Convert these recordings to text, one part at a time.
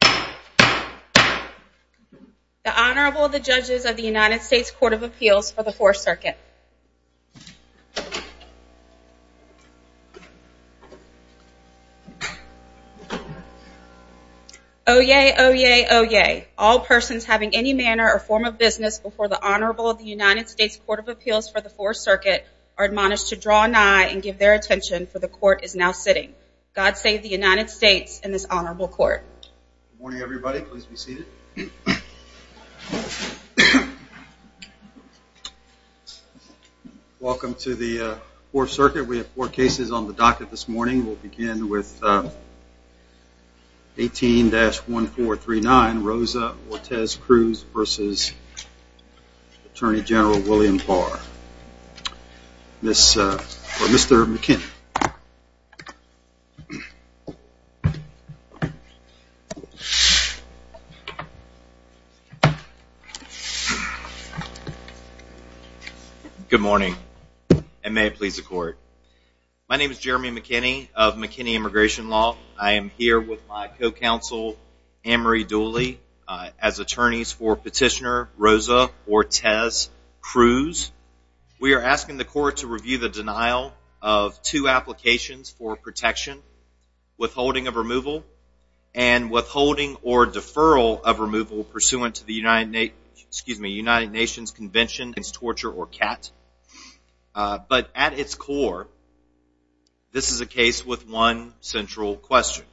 The Honorable, the Judges of the United States Court of Appeals for the Fourth Circuit Oyez! Oyez! Oyez! All persons having any manner or form of business before the Honorable of the United States Court of Appeals for the Fourth Circuit are admonished to draw an eye and give their attention, for the Court is now sitting. God save the United States in His Honorable Court. Good morning everybody, please be seated. Welcome to the Fourth Circuit. We have four cases on the docket this morning. We'll begin with 18-1439, Rosa Ortez-Cruz v. Attorney General William Barr. Mr. McKinney. Good morning, and may it please the Court. My name is Jeremy McKinney of McKinney Immigration Law. I am here with my co-counsel Anne Marie Petitioner Rosa Ortez-Cruz. We are asking the Court to review the denial of two applications for protection, withholding of removal, and withholding or deferral of removal pursuant to the United Nations Convention Against Torture or CAT. But at its core, this is a case with one central question.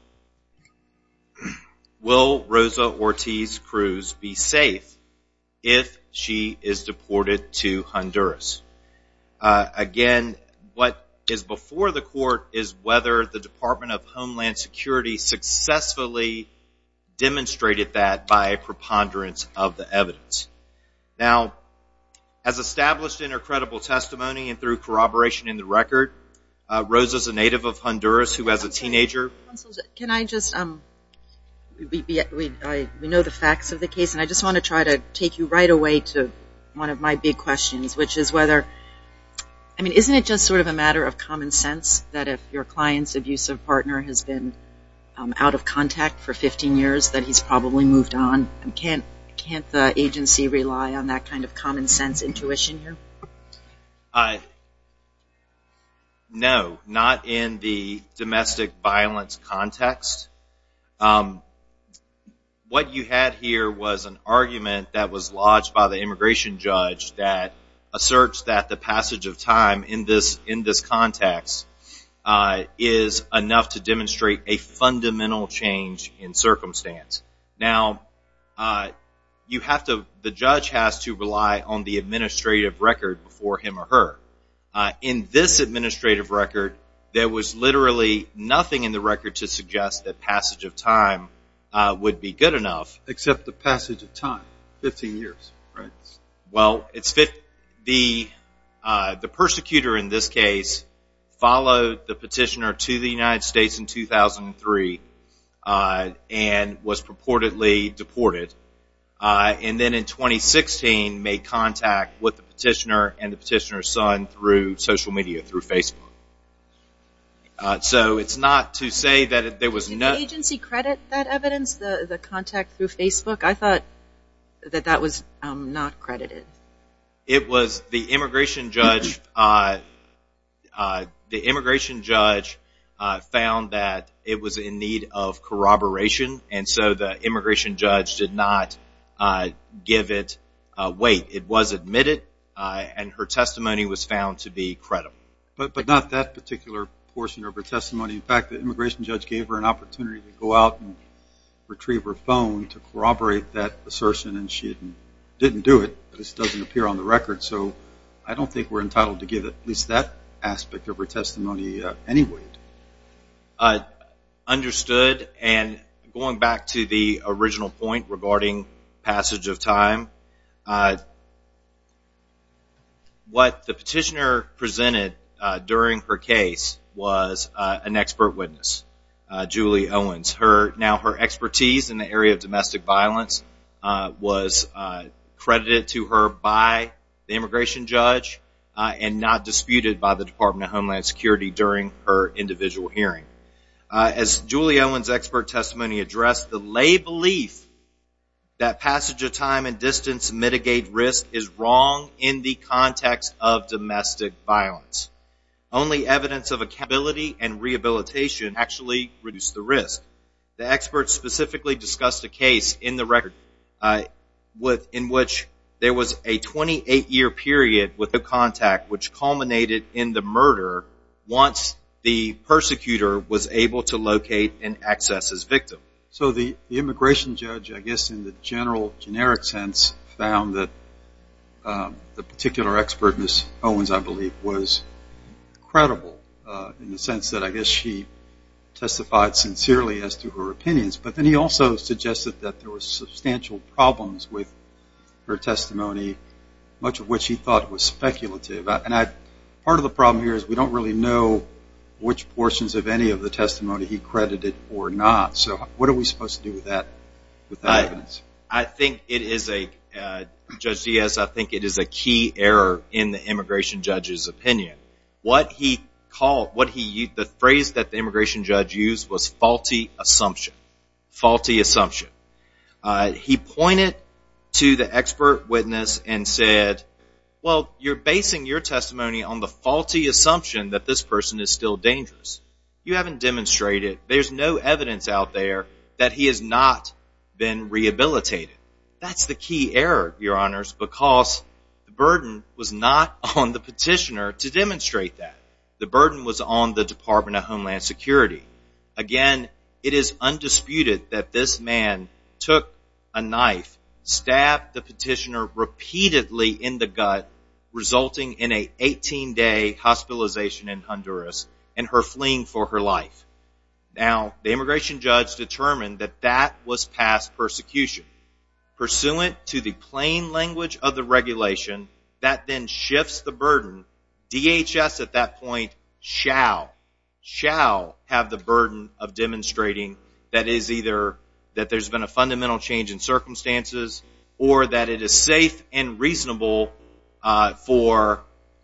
Will Rosa Ortez-Cruz be safe if she is deported to Honduras? Again, what is before the Court is whether the Department of Homeland Security successfully demonstrated that by preponderance of the evidence. Now, as established in her credible testimony and through corroboration in the record, Rosa is a native of Honduras who as a teenager Can I just, we know the facts of the case, and I just want to try to take you right away to one of my big questions, which is whether, I mean, isn't it just sort of a matter of common sense that if your client's abusive partner has been out of contact for 15 years that he's probably moved on? Can't the agency rely on that kind of common sense intuition here? No, not in the domestic violence context. What you had here was an argument that was lodged by the immigration judge that asserts that the passage of time in this context is enough to demonstrate a fundamental change in circumstance. Now, you have to, the judge has to rely on the administrative record before him or her. In this administrative record, there was literally nothing in the record to suggest that passage of time would be good enough. Except the passage of time, 15 years, right? Well, it's, the persecutor in this case followed the petitioner to the United States in 2003 and was purportedly deported, and then in 2016 made contact with the petitioner and the petitioner's son through social media, through Facebook. So it's not to say that there was no... Did the agency credit that evidence, the contact through Facebook? I thought that that was not credited. It was the immigration judge, the immigration judge found that it was in need of corroboration, and so the immigration judge did not give it weight. It was admitted, and her testimony was found to be credible. But not that particular portion of her testimony. In fact, the immigration judge gave her an opportunity to go out and retrieve her phone to corroborate that assertion, and she didn't do it. This doesn't appear on the record, so I don't think we're entitled to give at least that aspect of her testimony any weight. Understood, and going back to the original point regarding passage of time, what the petitioner presented during her case was an expert witness, Julie Owens. Now, her expertise in the area of domestic violence was credited to her by the immigration judge, and not disputed by the Department of Homeland Security during her individual hearing. As Julie Owens' expert testimony addressed, the lay belief that passage of time and distance mitigate risk is wrong in the context of domestic violence. Only evidence of accountability and rehabilitation actually reduce the risk. The expert specifically discussed a case in the record in which there was a 28-year period with no contact which culminated in the murder once the persecutor was able to locate and access his victim. So the immigration judge, I guess in the general, generic sense, found that the particular expertness Owens, I believe, was credible in the sense that I guess she testified sincerely as to her opinions, but then he also suggested that there were substantial problems with her testimony, much of which he thought was speculative. Part of the problem here is we don't really know which portions of any of the testimony he credited or not, so what are we supposed to do with that evidence? I think it is a, Judge Diaz, I think it is a key error in the immigration judge's opinion. What he called, the phrase that the immigration judge used was faulty assumption. Faulty assumption. He pointed to the expert witness and said, well, you're basing your testimony on the faulty assumption that this person is still dangerous. You haven't demonstrated, there's no evidence out there that he has not been rehabilitated. That's the key error, your honors, because the burden was not on the petitioner to demonstrate that. The burden was on the Department of Homeland Security. Again, it is undisputed that this man took a knife, stabbed the petitioner repeatedly in the gut, resulting in an 18-day hospitalization in Honduras and her fleeing for her life. Now, the immigration judge determined that that was past persecution. Pursuant to the plain language of the regulation, that then shifts the burden. DHS at that point shall, shall have the burden of demonstrating that is either that there's been a fundamental change in circumstances or that it is safe and reasonable for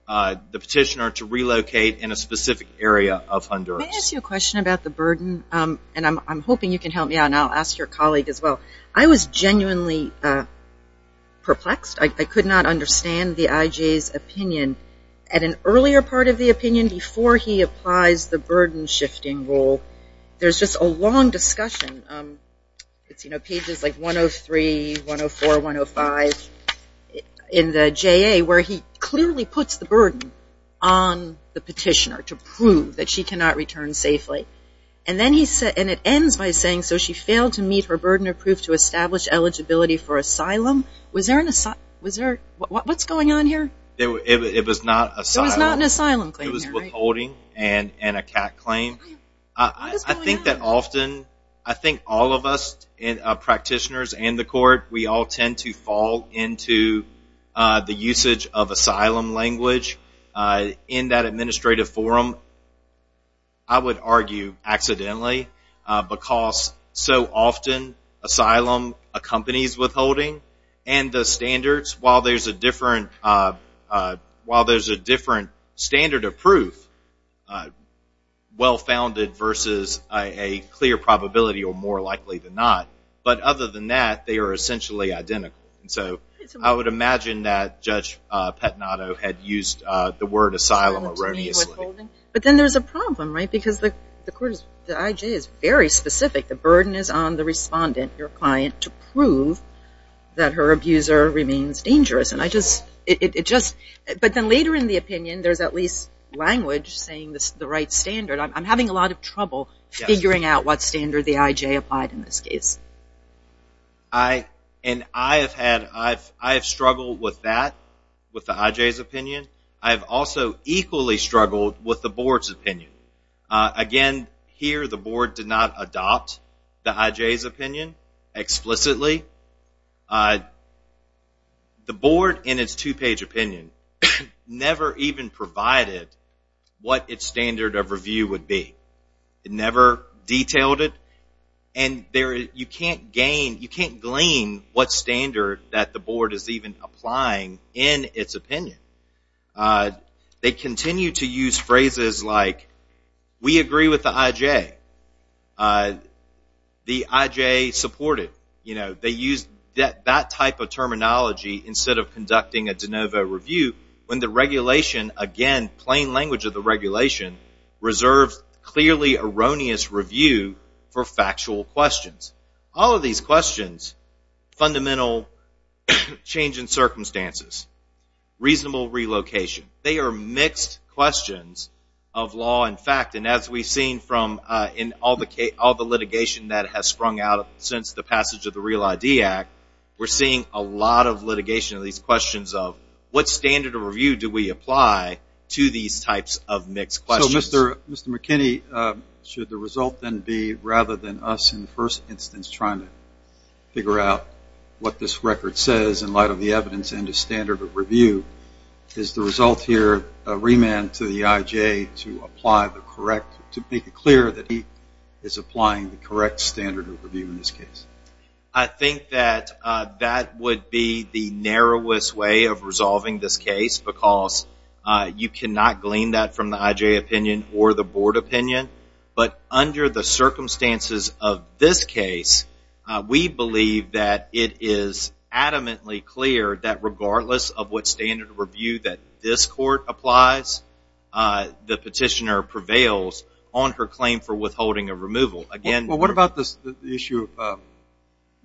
the petitioner to relocate in a specific area of Honduras. Can I ask you a question about the burden? I'm hoping you can help me out and I'll ask your colleague as well. I was genuinely perplexed. I could not understand the IJ's opinion. At an earlier part of the opinion, before he applies the burden shifting rule, there's just a long discussion. It's, you know, pages like 103, 104, 105 in the JA where he clearly puts the burden on the petitioner to prove that she cannot return safely. And then he said, and it ends by saying, so she failed to meet her burden of proof to establish eligibility for asylum. Was there an asylum, what's going on here? It was not an asylum claim. It was withholding and a cat claim. I think that often, I think all of us, practitioners and the court, we all tend to fall into the usage of asylum language in that administrative forum. I would argue accidentally because so often asylum accompanies withholding and the standards, while there's a different standard of proof, well founded versus a clear probability or more likely than not. But other than that, they are essentially identical. So I would imagine that Judge Petnato had used the word asylum erroneously. But then there's a problem, right? Because the IJ is very specific. The burden is on the respondent, your client, to prove that her abuser remains dangerous. But then later in the opinion, there's at least language saying the right standard. I'm having a lot of trouble figuring out what standard the IJ applied in this case. And I have had, I have struggled with that, with the IJ's opinion. I have also equally struggled with the board's opinion. Again, here the board did not adopt the IJ's opinion explicitly. The board in its two-page opinion never even provided what its standard of review would be. It never detailed it. And you can't gain, you can't glean what standard that the IJ applied. They used phrases like, we agree with the IJ. The IJ supported. They used that type of terminology instead of conducting a de novo review when the regulation, again, plain language of the regulation, reserves clearly erroneous review for factual questions. All of these questions, fundamental change in circumstances. Reasonable relocation. They are mixed questions of law and fact. And as we've seen from, in all the litigation that has sprung out since the passage of the Real ID Act, we're seeing a lot of litigation of these questions of what standard of review do we apply to these types of mixed questions. So Mr. McKinney, should the result then be, rather than us in the first instance trying to figure out what this record says in light of the evidence and the standard of review, is the result here remand to the IJ to apply the correct, to make it clear that he is applying the correct standard of review in this case? I think that that would be the narrowest way of resolving this case because you cannot glean that from the IJ opinion or the board opinion. But under the circumstances of this standard of review that this court applies, the petitioner prevails on her claim for withholding a removal. Well, what about the issue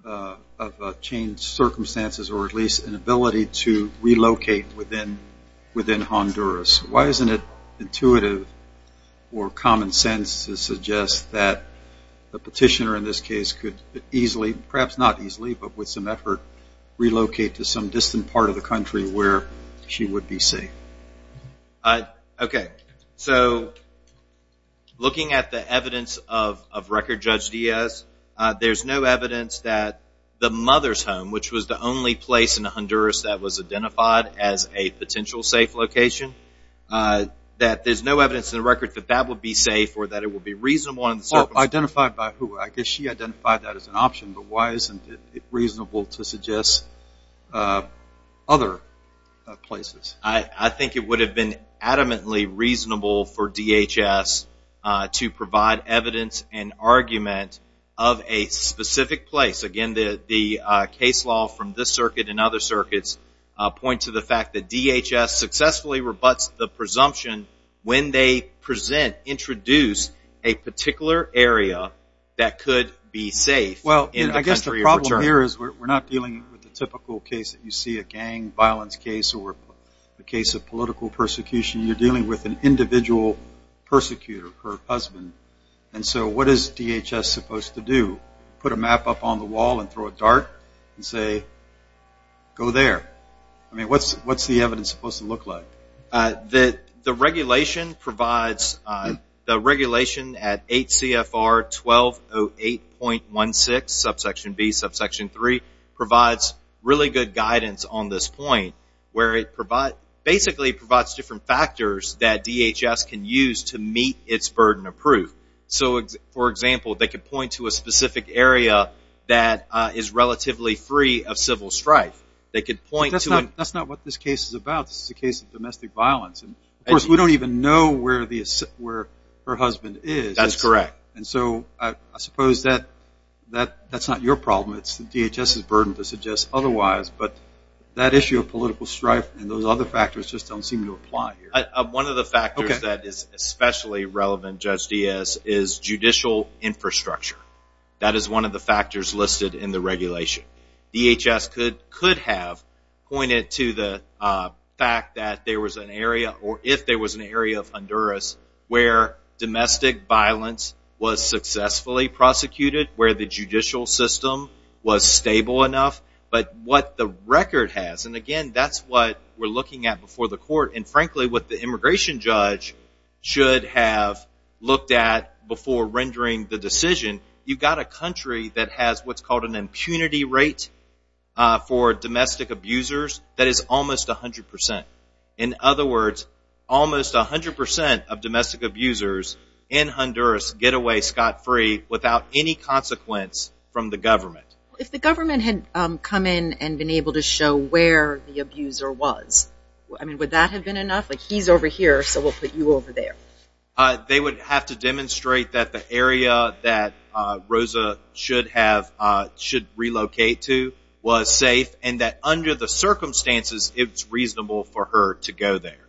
of changed circumstances or at least an ability to relocate within Honduras? Why isn't it intuitive or common sense to suggest that the petitioner in this case could easily, perhaps not easily, but with some effort, relocate to some distant part of the country where she would be safe? Okay. So looking at the evidence of record, Judge Diaz, there's no evidence that the mother's home, which was the only place in Honduras that was identified as a potential safe location, that there's no evidence in the record that that would be safe or that it would be reasonable in the circumstances. Identified by who? I guess she identified that as an option, but why isn't it reasonable to suggest other places? I think it would have been adamantly reasonable for DHS to provide evidence and argument of a specific place. Again, the case law from this circuit and other circuits point to the fact that DHS successfully rebuts the presumption when they present, introduce a particular area that could be safe in the country of return. We're not dealing with the typical case that you see, a gang violence case or a case of political persecution. You're dealing with an individual persecutor, her husband. And so what is DHS supposed to do? Put a map up on the wall and throw a dart and say, go there? What's the evidence supposed to look like? The regulation provides, the regulation at 8 CFR 1208.16, subsection B, subsection C, subsection 3, provides really good guidance on this point where it basically provides different factors that DHS can use to meet its burden of proof. For example, they could point to a specific area that is relatively free of civil strife. That's not what this case is about. This is a case of domestic violence. Of course, we don't even know where her husband is. That's correct. So I suppose that's not your problem. It's DHS's burden to suggest otherwise. But that issue of political strife and those other factors just don't seem to apply here. One of the factors that is especially relevant, Judge Diaz, is judicial infrastructure. That is one of the factors listed in the regulation. DHS could have pointed to the fact that there was successfully prosecuted, where the judicial system was stable enough. But what the record has, and again, that's what we're looking at before the court, and frankly, what the immigration judge should have looked at before rendering the decision, you've got a country that has what's called an impunity rate for domestic abusers that is almost 100%. In other words, almost 100% of domestic abusers in Honduras get away scot-free without any consequence from the government. If the government had come in and been able to show where the abuser was, would that have been enough? He's over here, so we'll put you over there. They would have to demonstrate that the area that Rosa should relocate to was safe and that under the circumstances, it's reasonable for her to go there.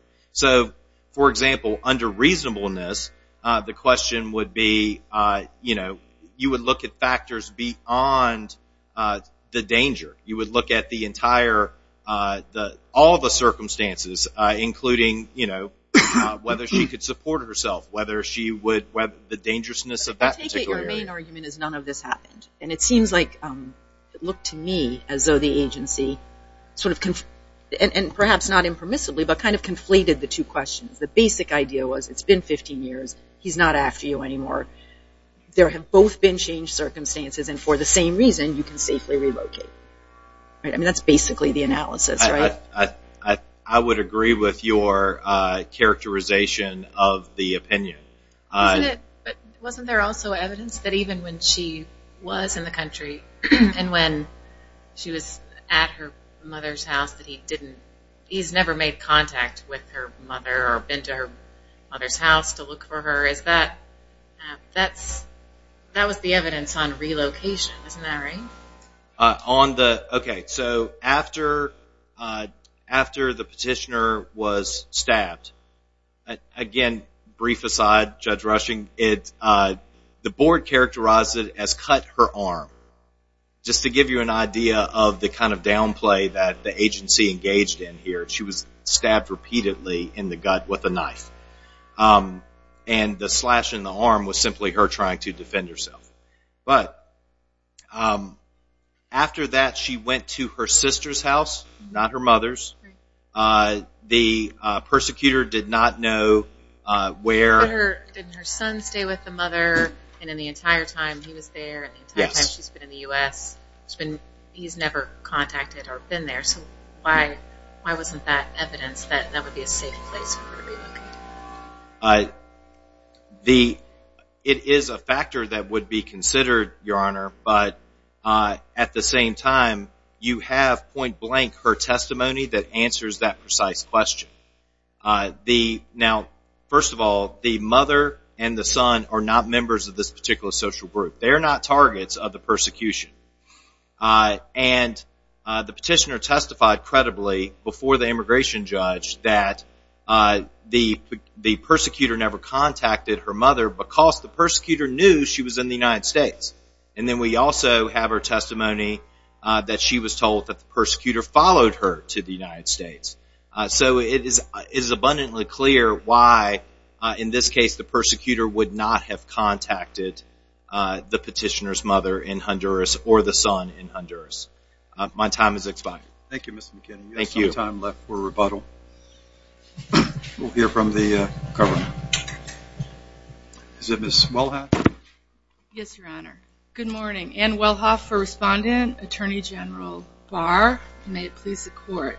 For example, under reasonableness, the question would be, you would look at factors beyond the danger. You would look at all the circumstances, including whether she could support herself, whether she would, the dangerousness of that particular area. None of this happened, and it seems like it looked to me as though the agency, and perhaps not impermissibly, but kind of conflated the two questions. The basic idea was, it's been 15 years, he's not after you anymore. There have both been changed circumstances, and for the same reason, you can safely relocate. That's basically the analysis, right? I would agree with your characterization of the opinion. Wasn't there also evidence that even when she was in the country, and when she was at her mother's house, that he didn't, he's never made contact with her mother, or been to her mother's house to look for her? That was the evidence on relocation, isn't that right? On the, okay, so after the petitioner was stabbed, again, brief aside, I don't know if you saw that, Judge Rushing, the board characterized it as cut her arm, just to give you an idea of the kind of downplay that the agency engaged in here. She was stabbed repeatedly in the gut with a knife, and the slash in the arm was simply her trying to defend herself. But after that, she went to her sister's house, not her mother's. The persecutor did not know where... Didn't her son stay with the mother, and in the entire time he was there, and the entire time she's been in the U.S., he's never contacted her, been there, so why wasn't that evidence that that would be a safe place for her to relocate? The, it is a factor that would be considered, Your Honor, but at the same time, you have to point blank her testimony that answers that precise question. The, now, first of all, the mother and the son are not members of this particular social group. They're not targets of the persecution. And the petitioner testified credibly before the immigration judge that the persecutor never contacted her mother because the persecutor knew she was in the United States. And then we also have her testimony that she was told that the persecutor followed her to the United States. So it is abundantly clear why, in this case, the persecutor would not have contacted the petitioner's mother in Honduras or the son in Honduras. My time has expired. Thank you, Mr. McKinney. We have some time left for rebuttal. We'll hear from the government. Is it Ms. Walhack? Yes, Your Honor. Good morning. Ann Wellhoff for Respondent, Attorney General Barr. May it please the Court.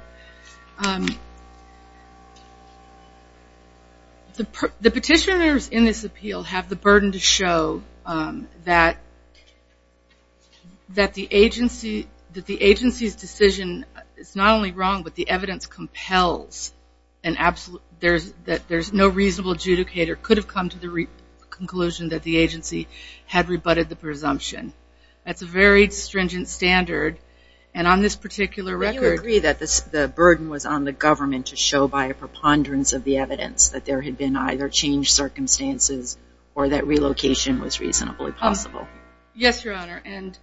The petitioners in this appeal have the burden to show that the agency's decision is not only wrong, but the evidence compels an absolute, that there's no reasonable adjudicator could have come to the conclusion that the agency had rebutted the presumption. That's a very stringent standard. And on this particular record... Do you agree that the burden was on the government to show by a preponderance of the evidence that there had been either changed circumstances or that relocation was reasonably possible? I would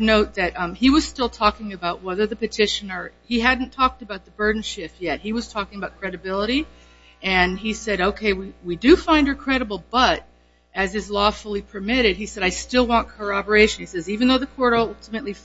note that he was still talking about whether the petitioner... He hadn't talked about the burden shift yet. He was talking about credibility. And he said, okay, we do find her credible, but as is lawfully permitted, he said, I still want corroboration. He says, even though the court ultimately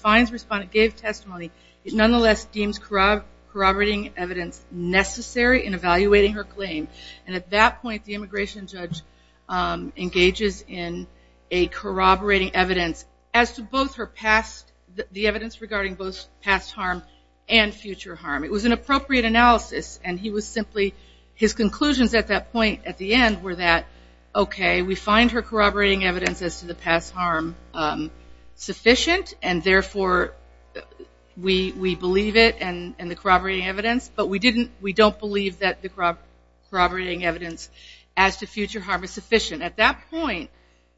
gave testimony, it nonetheless deems corroborating evidence necessary in evaluating her claim. And at that point, the immigration judge engages in a corroborating evidence as to both her past, the evidence regarding both past harm and future harm. It was an appropriate analysis. And he was simply... His conclusions at that point, at the end, were that, okay, we find her corroborating evidence as to the past harm sufficient. And therefore, we believe it and the corroborating evidence. But we don't believe that the corroborating evidence as to future harm is sufficient. At that point,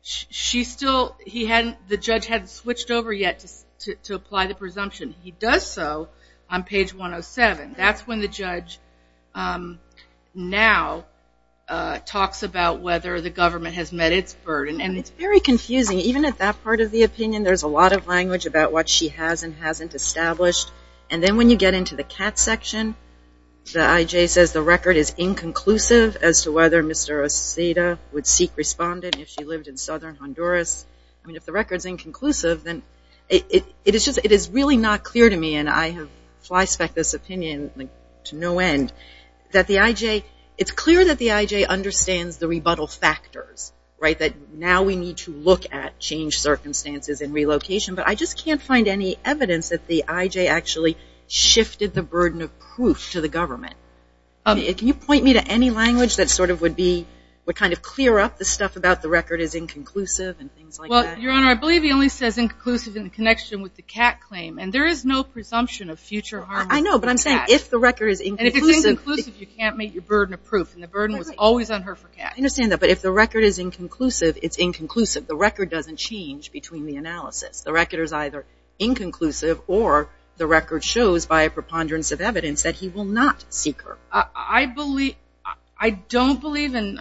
she still... He hadn't... The judge hadn't switched over yet to apply the presumption. He does so on page 107. That's when the judge now talks about whether the government has met its burden. And it's very confusing. Even at that part of the opinion, there's a lot of language about what she has and hasn't established. And then when you get into the CAT section, the IJ says the record is inconclusive as to whether Mr. Oceda would seek respondent if she lived in southern Honduras. I mean, if the record's inconclusive, then... It is really not clear to me, and I have flyspecked this opinion to no end, that the IJ... It's clear that the IJ understands the rebuttal factors, right? That now we need to look at changed circumstances and relocation. But I just can't find any evidence that the IJ actually shifted the burden of proof to the government. Can you point me to any language that sort of would be... would kind of clear up the stuff about the record is inconclusive and things like that? Well, Your Honor, I believe he only says inconclusive in connection with the CAT claim. And there is no presumption of future harm with the CAT. I know, but I'm saying if the record is inconclusive... And if it's inconclusive, you can't make your burden of proof. And the burden was always on her for CAT. I understand that. But if the record is inconclusive, it's inconclusive. The record doesn't change between the analysis. The record is either inconclusive or the record shows, by a preponderance of evidence, that he will not seek her. I believe... I don't believe, and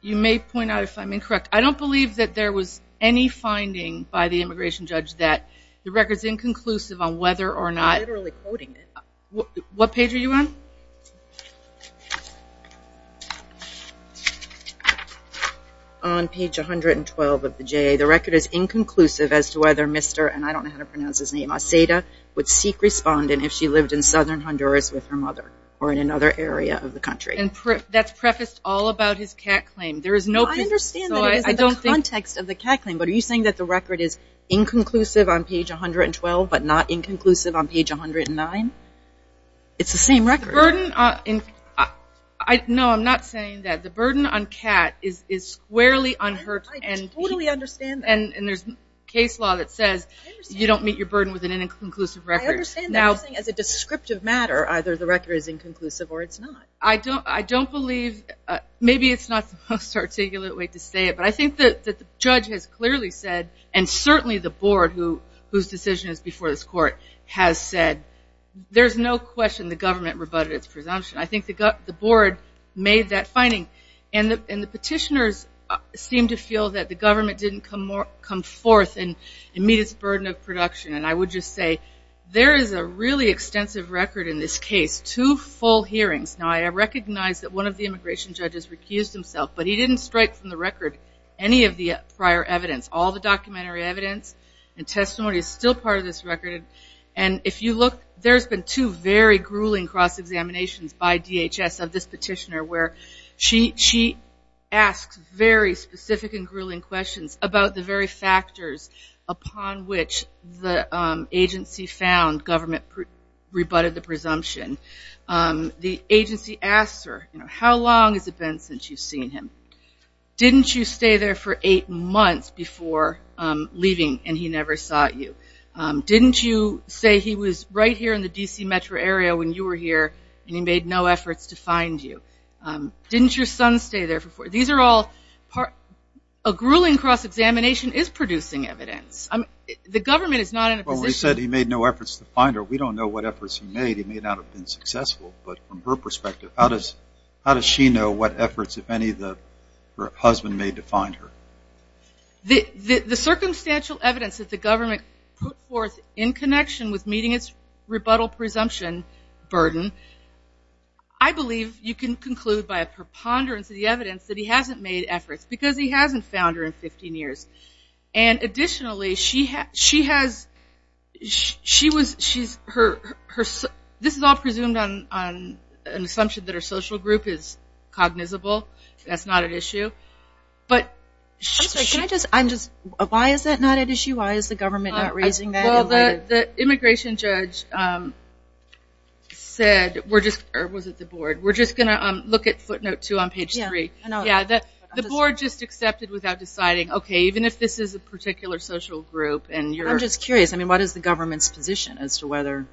you may point out if I'm incorrect, I don't believe that there was any finding by the immigration judge that the record's inconclusive on whether or not... You're literally quoting it. What page are you on? On page 112 of the JA, the record is inconclusive as to whether Mr. and I don't know how to pronounce his name, Aseda would seek respondent if she lived in southern Honduras with her mother or in another area of the country. And that's prefaced all about his CAT claim. There is no proof. I understand that it is in the context of the CAT claim, but are you saying that the record is inconclusive on page 112 but not inconclusive on page 109? It's the same record. The burden on... No, I'm not saying that. The burden on CAT is squarely unheard. I totally understand that. And there's case law that says you don't meet your burden with an inconclusive record. I understand that you're saying as a descriptive matter, either the record is inconclusive or it's not. I don't believe... Maybe it's not the most articulate way to say it, but I think that the judge has clearly said, and certainly the board, whose decision is before this court, has said there's no question the government rebutted its presumption. I think the board made that finding. And the petitioners seem to feel that the government didn't come forth and meet its burden of production. And I would just say there is a really extensive record in this case, two full hearings. Now, I recognize that one of the immigration judges recused himself, but he didn't strike from the record any of the prior evidence. All the documentary evidence and testimony is still part of this record. And if you look, there's been two very grueling cross-examinations by DHS of this petitioner where she asks very specific and grueling questions about the very factors upon which the agency found government rebutted the presumption. The agency asks her, how long has it been since you've seen him? Didn't you stay there for eight months before leaving and he never saw you? Didn't you say he was right here in the D.C. metro area when you were here and he made no efforts to find you? Didn't your son stay there before? These are all part of a grueling cross-examination is producing evidence. The government is not in a position. Well, we said he made no efforts to find her. We don't know what efforts he made. He may not have been successful. But from her perspective, how does she know what efforts, if any, her husband made to find her? The circumstantial evidence that the government put forth in connection with meeting its rebuttal presumption burden, I believe you can conclude by a preponderance of the evidence that he hasn't made efforts because he hasn't found her in 15 years. Additionally, this is all presumed on an assumption that her social group is cognizable. That's not at issue. Why is that not at issue? Why is the government not raising that? The immigration judge said, or was it the board, we're just going to look at footnote two on page three. The board just accepted without deciding, okay, even if this is a particular social group. I'm just curious, I mean, what is the government's position as to whether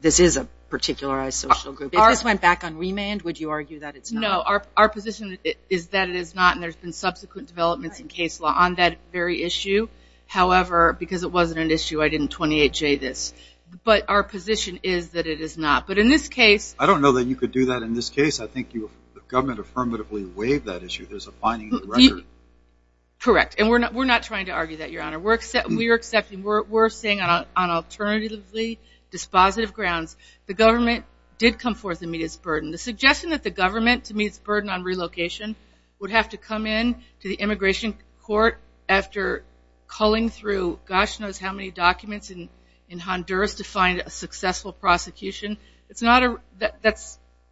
this is a particularized social group? If ours went back on remand, would you argue that it's not? No, our position is that it is not, and there's been subsequent developments in case law on that very issue. However, because it wasn't an issue, I didn't 28-J this. But our position is that it is not. But in this case. I don't know that you could do that in this case. I think the government affirmatively waived that issue. There's a finding in the record. Correct. And we're not trying to argue that, Your Honor. We're saying on alternatively dispositive grounds, the government did come forth and meet its burden. The suggestion that the government, to meet its burden on relocation, would have to come in to the immigration court after culling through gosh knows how many documents in Honduras to find a successful prosecution, that's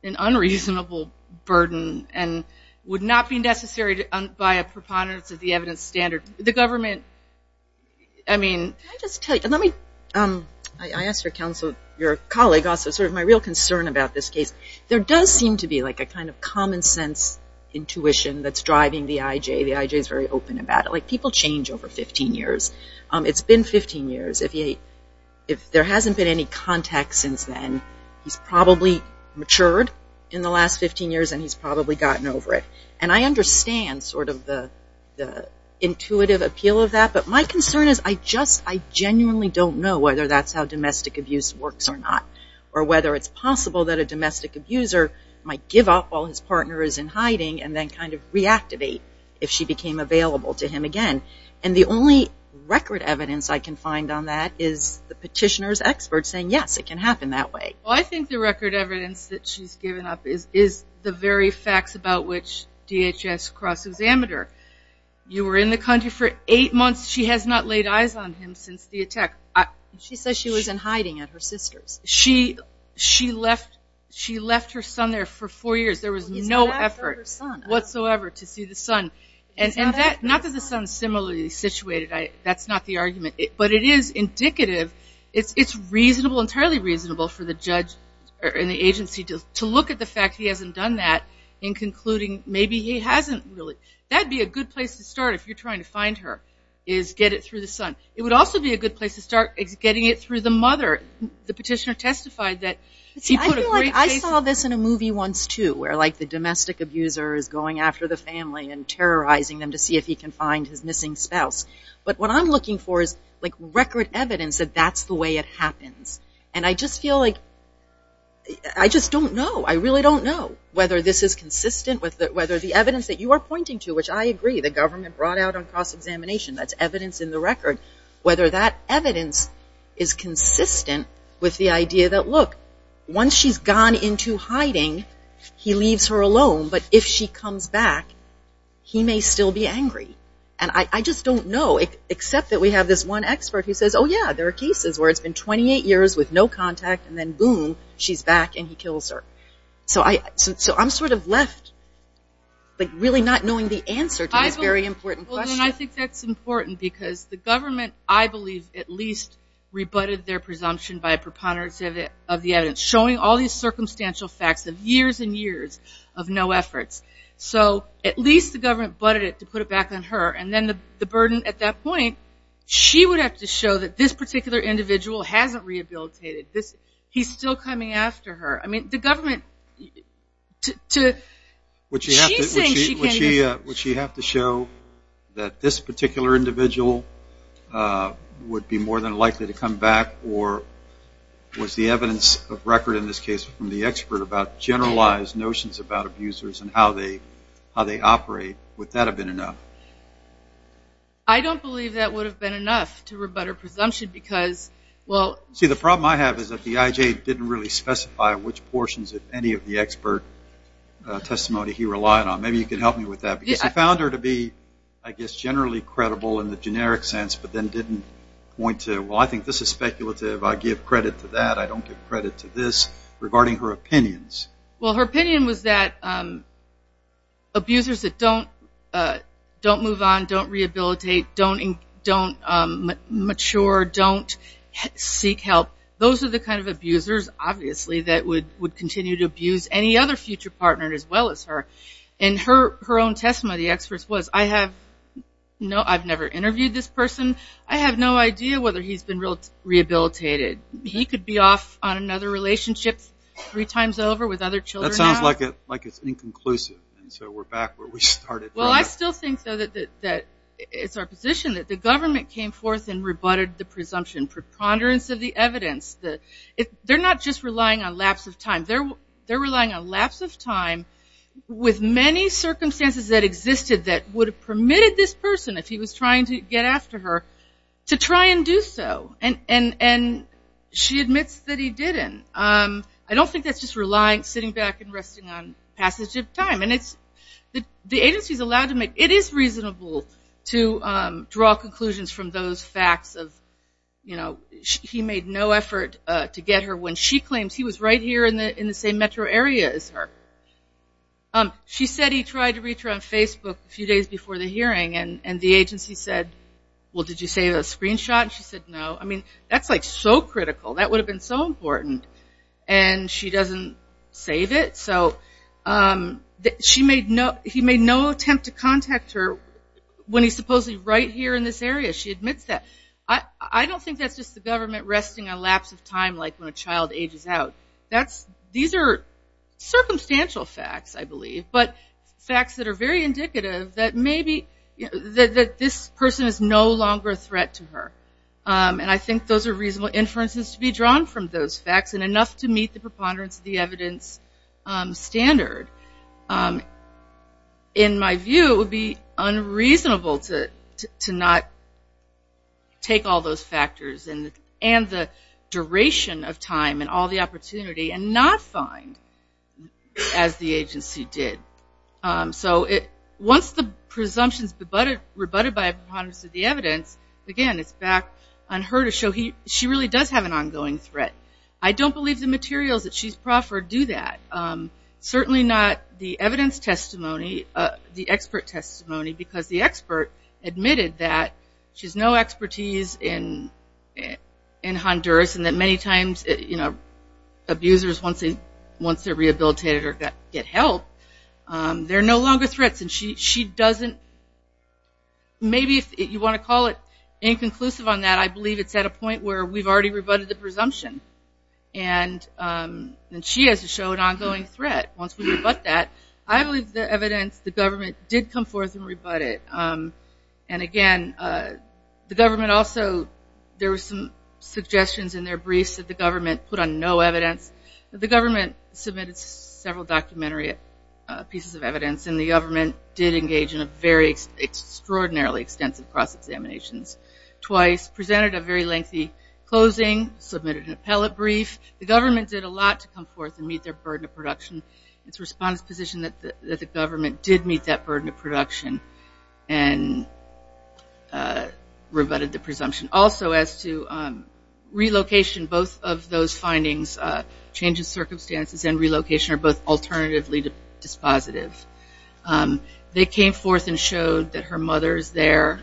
an unreasonable burden, and would not be necessary by a preponderance of the evidence standard. The government, I mean. Can I just tell you? I asked your counsel, your colleague also, sort of my real concern about this case. There does seem to be like a kind of common sense intuition that's driving the IJ. The IJ is very open about it. Like people change over 15 years. It's been 15 years. If there hasn't been any contact since then, he's probably matured in the last 15 years and he's probably gotten over it. And I understand sort of the intuitive appeal of that, but my concern is I just, I genuinely don't know whether that's how domestic abuse works or not, or whether it's possible that a domestic abuser might give up all his partners in hiding and then kind of reactivate if she became available to him again. And the only record evidence I can find on that is the petitioner's expert saying, yes, it can happen that way. Well, I think the record evidence that she's given up is the very facts about which DHS cross-examined her. You were in the country for eight months. She has not laid eyes on him since the attack. She says she was in hiding at her sister's. She left her son there for four years. There was no effort whatsoever to see the son. Not that the son is similarly situated. That's not the argument. But it is indicative. It's reasonable, entirely reasonable for the judge and the agency to look at the fact he hasn't done that in concluding maybe he hasn't really. That would be a good place to start if you're trying to find her, is get it through the son. It would also be a good place to start getting it through the mother. The petitioner testified that she put a great face on her. I saw this in a movie once, too, where like the domestic abuser is going after the family and terrorizing them to see if he can find his missing spouse. But what I'm looking for is like record evidence that that's the way it happens. And I just feel like I just don't know. I really don't know whether this is consistent with whether the evidence that you are pointing to, which I agree, the government brought out on cross-examination, whether that evidence is consistent with the idea that, look, once she's gone into hiding, he leaves her alone. But if she comes back, he may still be angry. And I just don't know, except that we have this one expert who says, oh, yeah, there are cases where it's been 28 years with no contact, and then boom, she's back and he kills her. So I'm sort of left like really not knowing the answer to this very important question. Well, then I think that's important because the government, I believe, at least rebutted their presumption by a preponderance of the evidence, showing all these circumstantial facts of years and years of no efforts. So at least the government butted it to put it back on her. And then the burden at that point, she would have to show that this particular individual hasn't rehabilitated. He's still coming after her. I mean, the government, she's saying she can't even. that this particular individual would be more than likely to come back or was the evidence of record in this case from the expert about generalized notions about abusers and how they operate, would that have been enough? I don't believe that would have been enough to rebut her presumption because, well. See, the problem I have is that the IJ didn't really specify which portions of any of the expert testimony he relied on. Maybe you can help me with that. Because he found her to be, I guess, generally credible in the generic sense, but then didn't point to, well, I think this is speculative. I give credit to that. I don't give credit to this, regarding her opinions. Well, her opinion was that abusers that don't move on, don't rehabilitate, don't mature, don't seek help, those are the kind of abusers, obviously, that would continue to abuse any other future partner as well as her. And her own testimony of the experts was, I've never interviewed this person. I have no idea whether he's been rehabilitated. He could be off on another relationship three times over with other children. That sounds like it's inconclusive. And so we're back where we started. Well, I still think, though, that it's our position that the government came forth and rebutted the presumption, preponderance of the evidence. They're not just relying on lapse of time. They're relying on lapse of time with many circumstances that existed that would have permitted this person, if he was trying to get after her, to try and do so. And she admits that he didn't. I don't think that's just relying, sitting back and resting on passage of time. And the agency is allowed to make, it is reasonable to draw conclusions from those facts of, you know, he made no effort to get her when she claims he was right here in the same metro area as her. She said he tried to reach her on Facebook a few days before the hearing, and the agency said, well, did you save a screenshot? And she said no. I mean, that's like so critical. That would have been so important. And she doesn't save it. So he made no attempt to contact her when he's supposedly right here in this area. She admits that. I don't think that's just the government resting on lapse of time like when a child ages out. These are circumstantial facts, I believe, but facts that are very indicative that maybe this person is no longer a threat to her. And I think those are reasonable inferences to be drawn from those facts and enough to meet the preponderance of the evidence standard. In my view, it would be unreasonable to not take all those factors and the duration of time and all the opportunity and not find, as the agency did. So once the presumption is rebutted by a preponderance of the evidence, again, it's back on her to show she really does have an ongoing threat. I don't believe the materials that she's proffered do that. Certainly not the evidence testimony, the expert testimony, because the expert admitted that she has no expertise in Honduras and that many times abusers, once they're rehabilitated or get help, they're no longer threats. And she doesn't, maybe if you want to call it inconclusive on that, I believe it's at a point where we've already rebutted the presumption. And she has to show an ongoing threat once we rebut that. I believe the evidence, the government did come forth and rebut it. And again, the government also, there were some suggestions in their briefs that the government put on no evidence. The government submitted several documentary pieces of evidence and the government did engage in a very extraordinarily extensive cross-examinations twice, presented a very lengthy closing, submitted an appellate brief. The government did a lot to come forth and meet their burden of production. It's response position that the government did meet that burden of production and rebutted the presumption. Also, as to relocation, both of those findings, change in circumstances and relocation are both alternatively dispositive. They came forth and showed that her mother is there.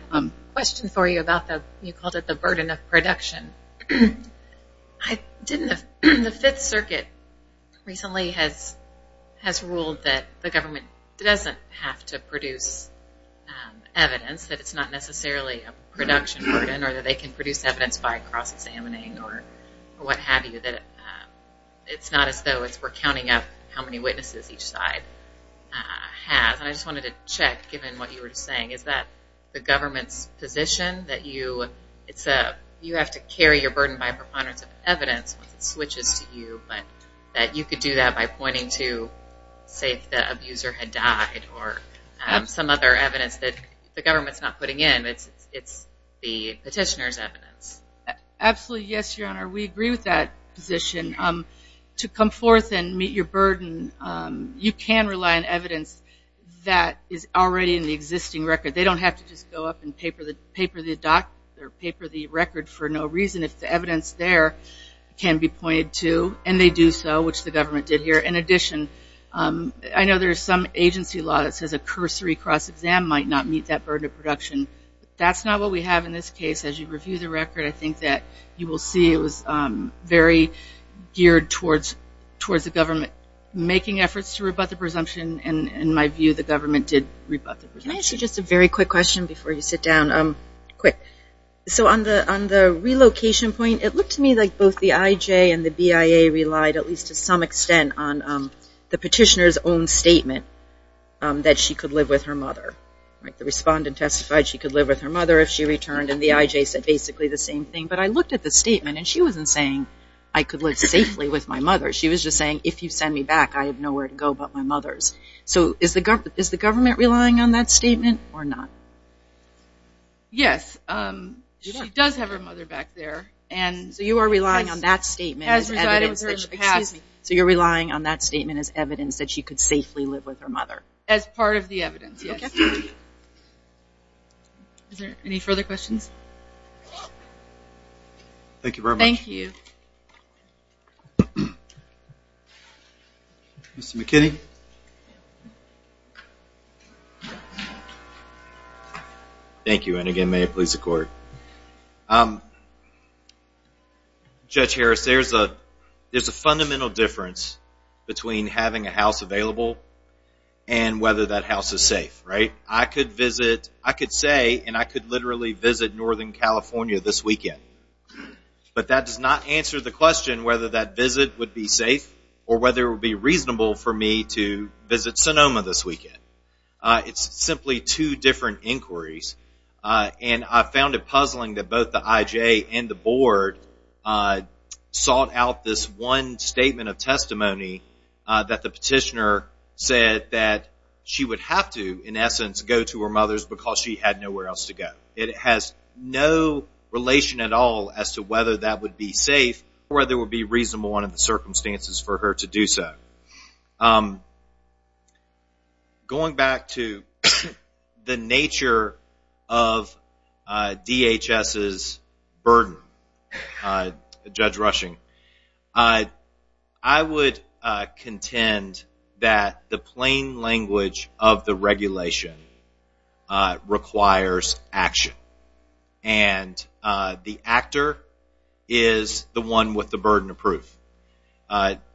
Question for you about the, you called it the burden of production. The Fifth Circuit recently has ruled that the government doesn't have to produce evidence, that it's not necessarily a production burden or that they can produce evidence by cross-examining or what have you, that it's not as though it's recounting up how many witnesses each side has. I just wanted to check given what you were saying. Is that the government's position that you, you have to carry your burden by preponderance of evidence once it switches to you, but that you could do that by pointing to say if the abuser had died or some other evidence that the government's not putting in. It's the petitioner's evidence. Absolutely, yes, Your Honor. We agree with that position. To come forth and meet your burden, you can rely on evidence that is already in the existing record. They don't have to just go up and paper the record for no reason. If the evidence there can be pointed to, and they do so, which the government did here. In addition, I know there's some agency law that says a cursory cross-exam might not meet that burden of production. That's not what we have in this case. As you review the record, I think that you will see it was very geared towards the government making efforts to rebut the presumption. In my view, the government did rebut the presumption. Can I ask you just a very quick question before you sit down? Quick. So on the relocation point, it looked to me like both the IJ and the BIA relied, at least to some extent, on the petitioner's own statement that she could live with her mother. The respondent testified she could live with her mother if she returned, and the IJ said basically the same thing. But I looked at the statement, and she wasn't saying I could live safely with my mother. She was just saying if you send me back, I have nowhere to go but my mother's. So is the government relying on that statement or not? Yes. She does have her mother back there. So you are relying on that statement as evidence that she could safely live with her mother. As part of the evidence, yes. Is there any further questions? Thank you very much. Thank you. Mr. McKinney. Thank you, and again may it please the Court. Judge Harris, there's a fundamental difference between having a house available and whether that house is safe. I could visit, I could say, and I could literally visit Northern California this weekend. But that does not answer the question whether that visit would be safe or whether it would be reasonable for me to visit Sonoma this weekend. It's simply two different inquiries. And I found it puzzling that both the IJ and the Board sought out this one statement of testimony that the petitioner said that she would have to, in essence, go to her mother's because she had nowhere else to go. It has no relation at all as to whether that would be safe or whether it would be reasonable under the circumstances for her to do so. Going back to the nature of DHS's burden, Judge Rushing, I would contend that the plain language of the regulation requires action. And the actor is the one with the burden of proof.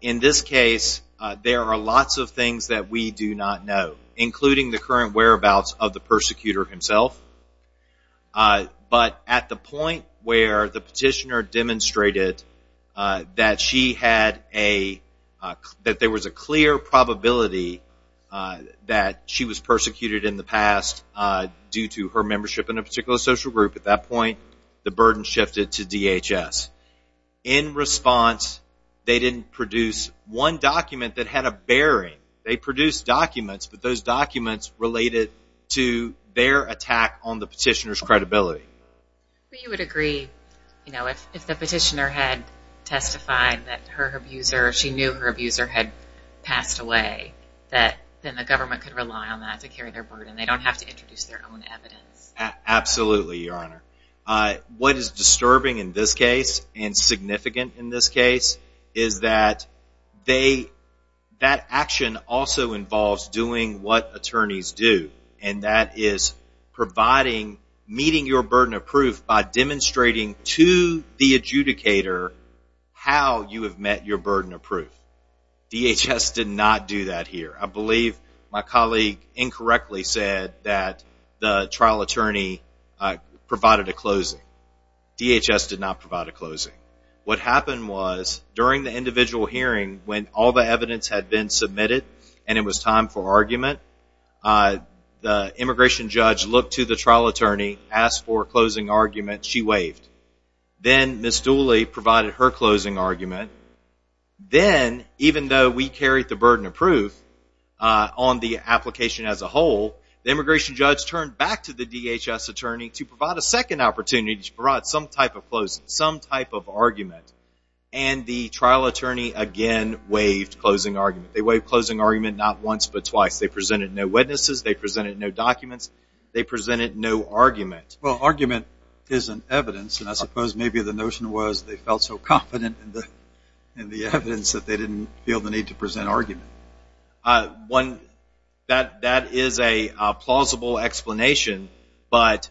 In this case, there are lots of things that we do not know, including the current whereabouts of the persecutor himself. But at the point where the petitioner demonstrated that there was a clear probability that she was persecuted in the past due to her membership in a particular social group, at that point, the burden shifted to DHS. In response, they didn't produce one document that had a bearing. They produced documents, but those documents related to their attack on the petitioner's credibility. But you would agree, you know, if the petitioner had testified that her abuser, she knew her abuser had passed away, that then the government could rely on that to carry their burden. They don't have to introduce their own evidence. Absolutely, Your Honor. What is disturbing in this case, and significant in this case, is that that action also involves doing what attorneys do, and that is providing, meeting your burden of proof by demonstrating to the adjudicator how you have met your burden of proof. DHS did not do that here. I believe my colleague incorrectly said that the trial attorney provided a closing. DHS did not provide a closing. What happened was, during the individual hearing, when all the evidence had been submitted and it was time for argument, the immigration judge looked to the trial attorney, asked for a closing argument, she waved. Then Ms. Dooley provided her closing argument. Then, even though we carried the burden of proof on the application as a whole, the immigration judge turned back to the DHS attorney to provide a second opportunity to provide some type of closing, some type of argument, and the trial attorney again waved closing argument. They waved closing argument not once, but twice. They presented no witnesses. They presented no documents. They presented no argument. Well, argument isn't evidence, and I suppose maybe the notion was they felt so confident in the evidence that they didn't feel the need to present argument. One, that is a plausible explanation, but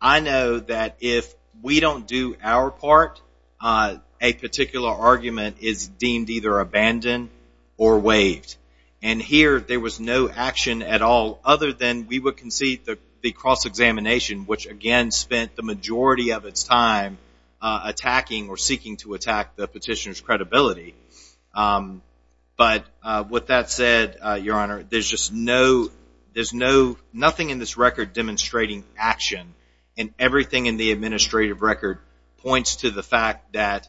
I know that if we don't do our part, a particular argument is deemed either abandoned or waved, and here there was no action at all other than we would concede the cross-examination, which again spent the majority of its time attacking or seeking to attack the petitioner's credibility. But with that said, Your Honor, there's nothing in this record demonstrating action, and everything in the administrative record points to the fact that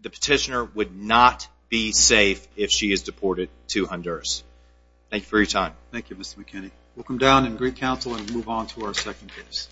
the petitioner would not be safe if she is deported to Honduras. Thank you for your time. Thank you, Mr. McKinney. We'll come down and greet counsel and move on to our second case. Thank you.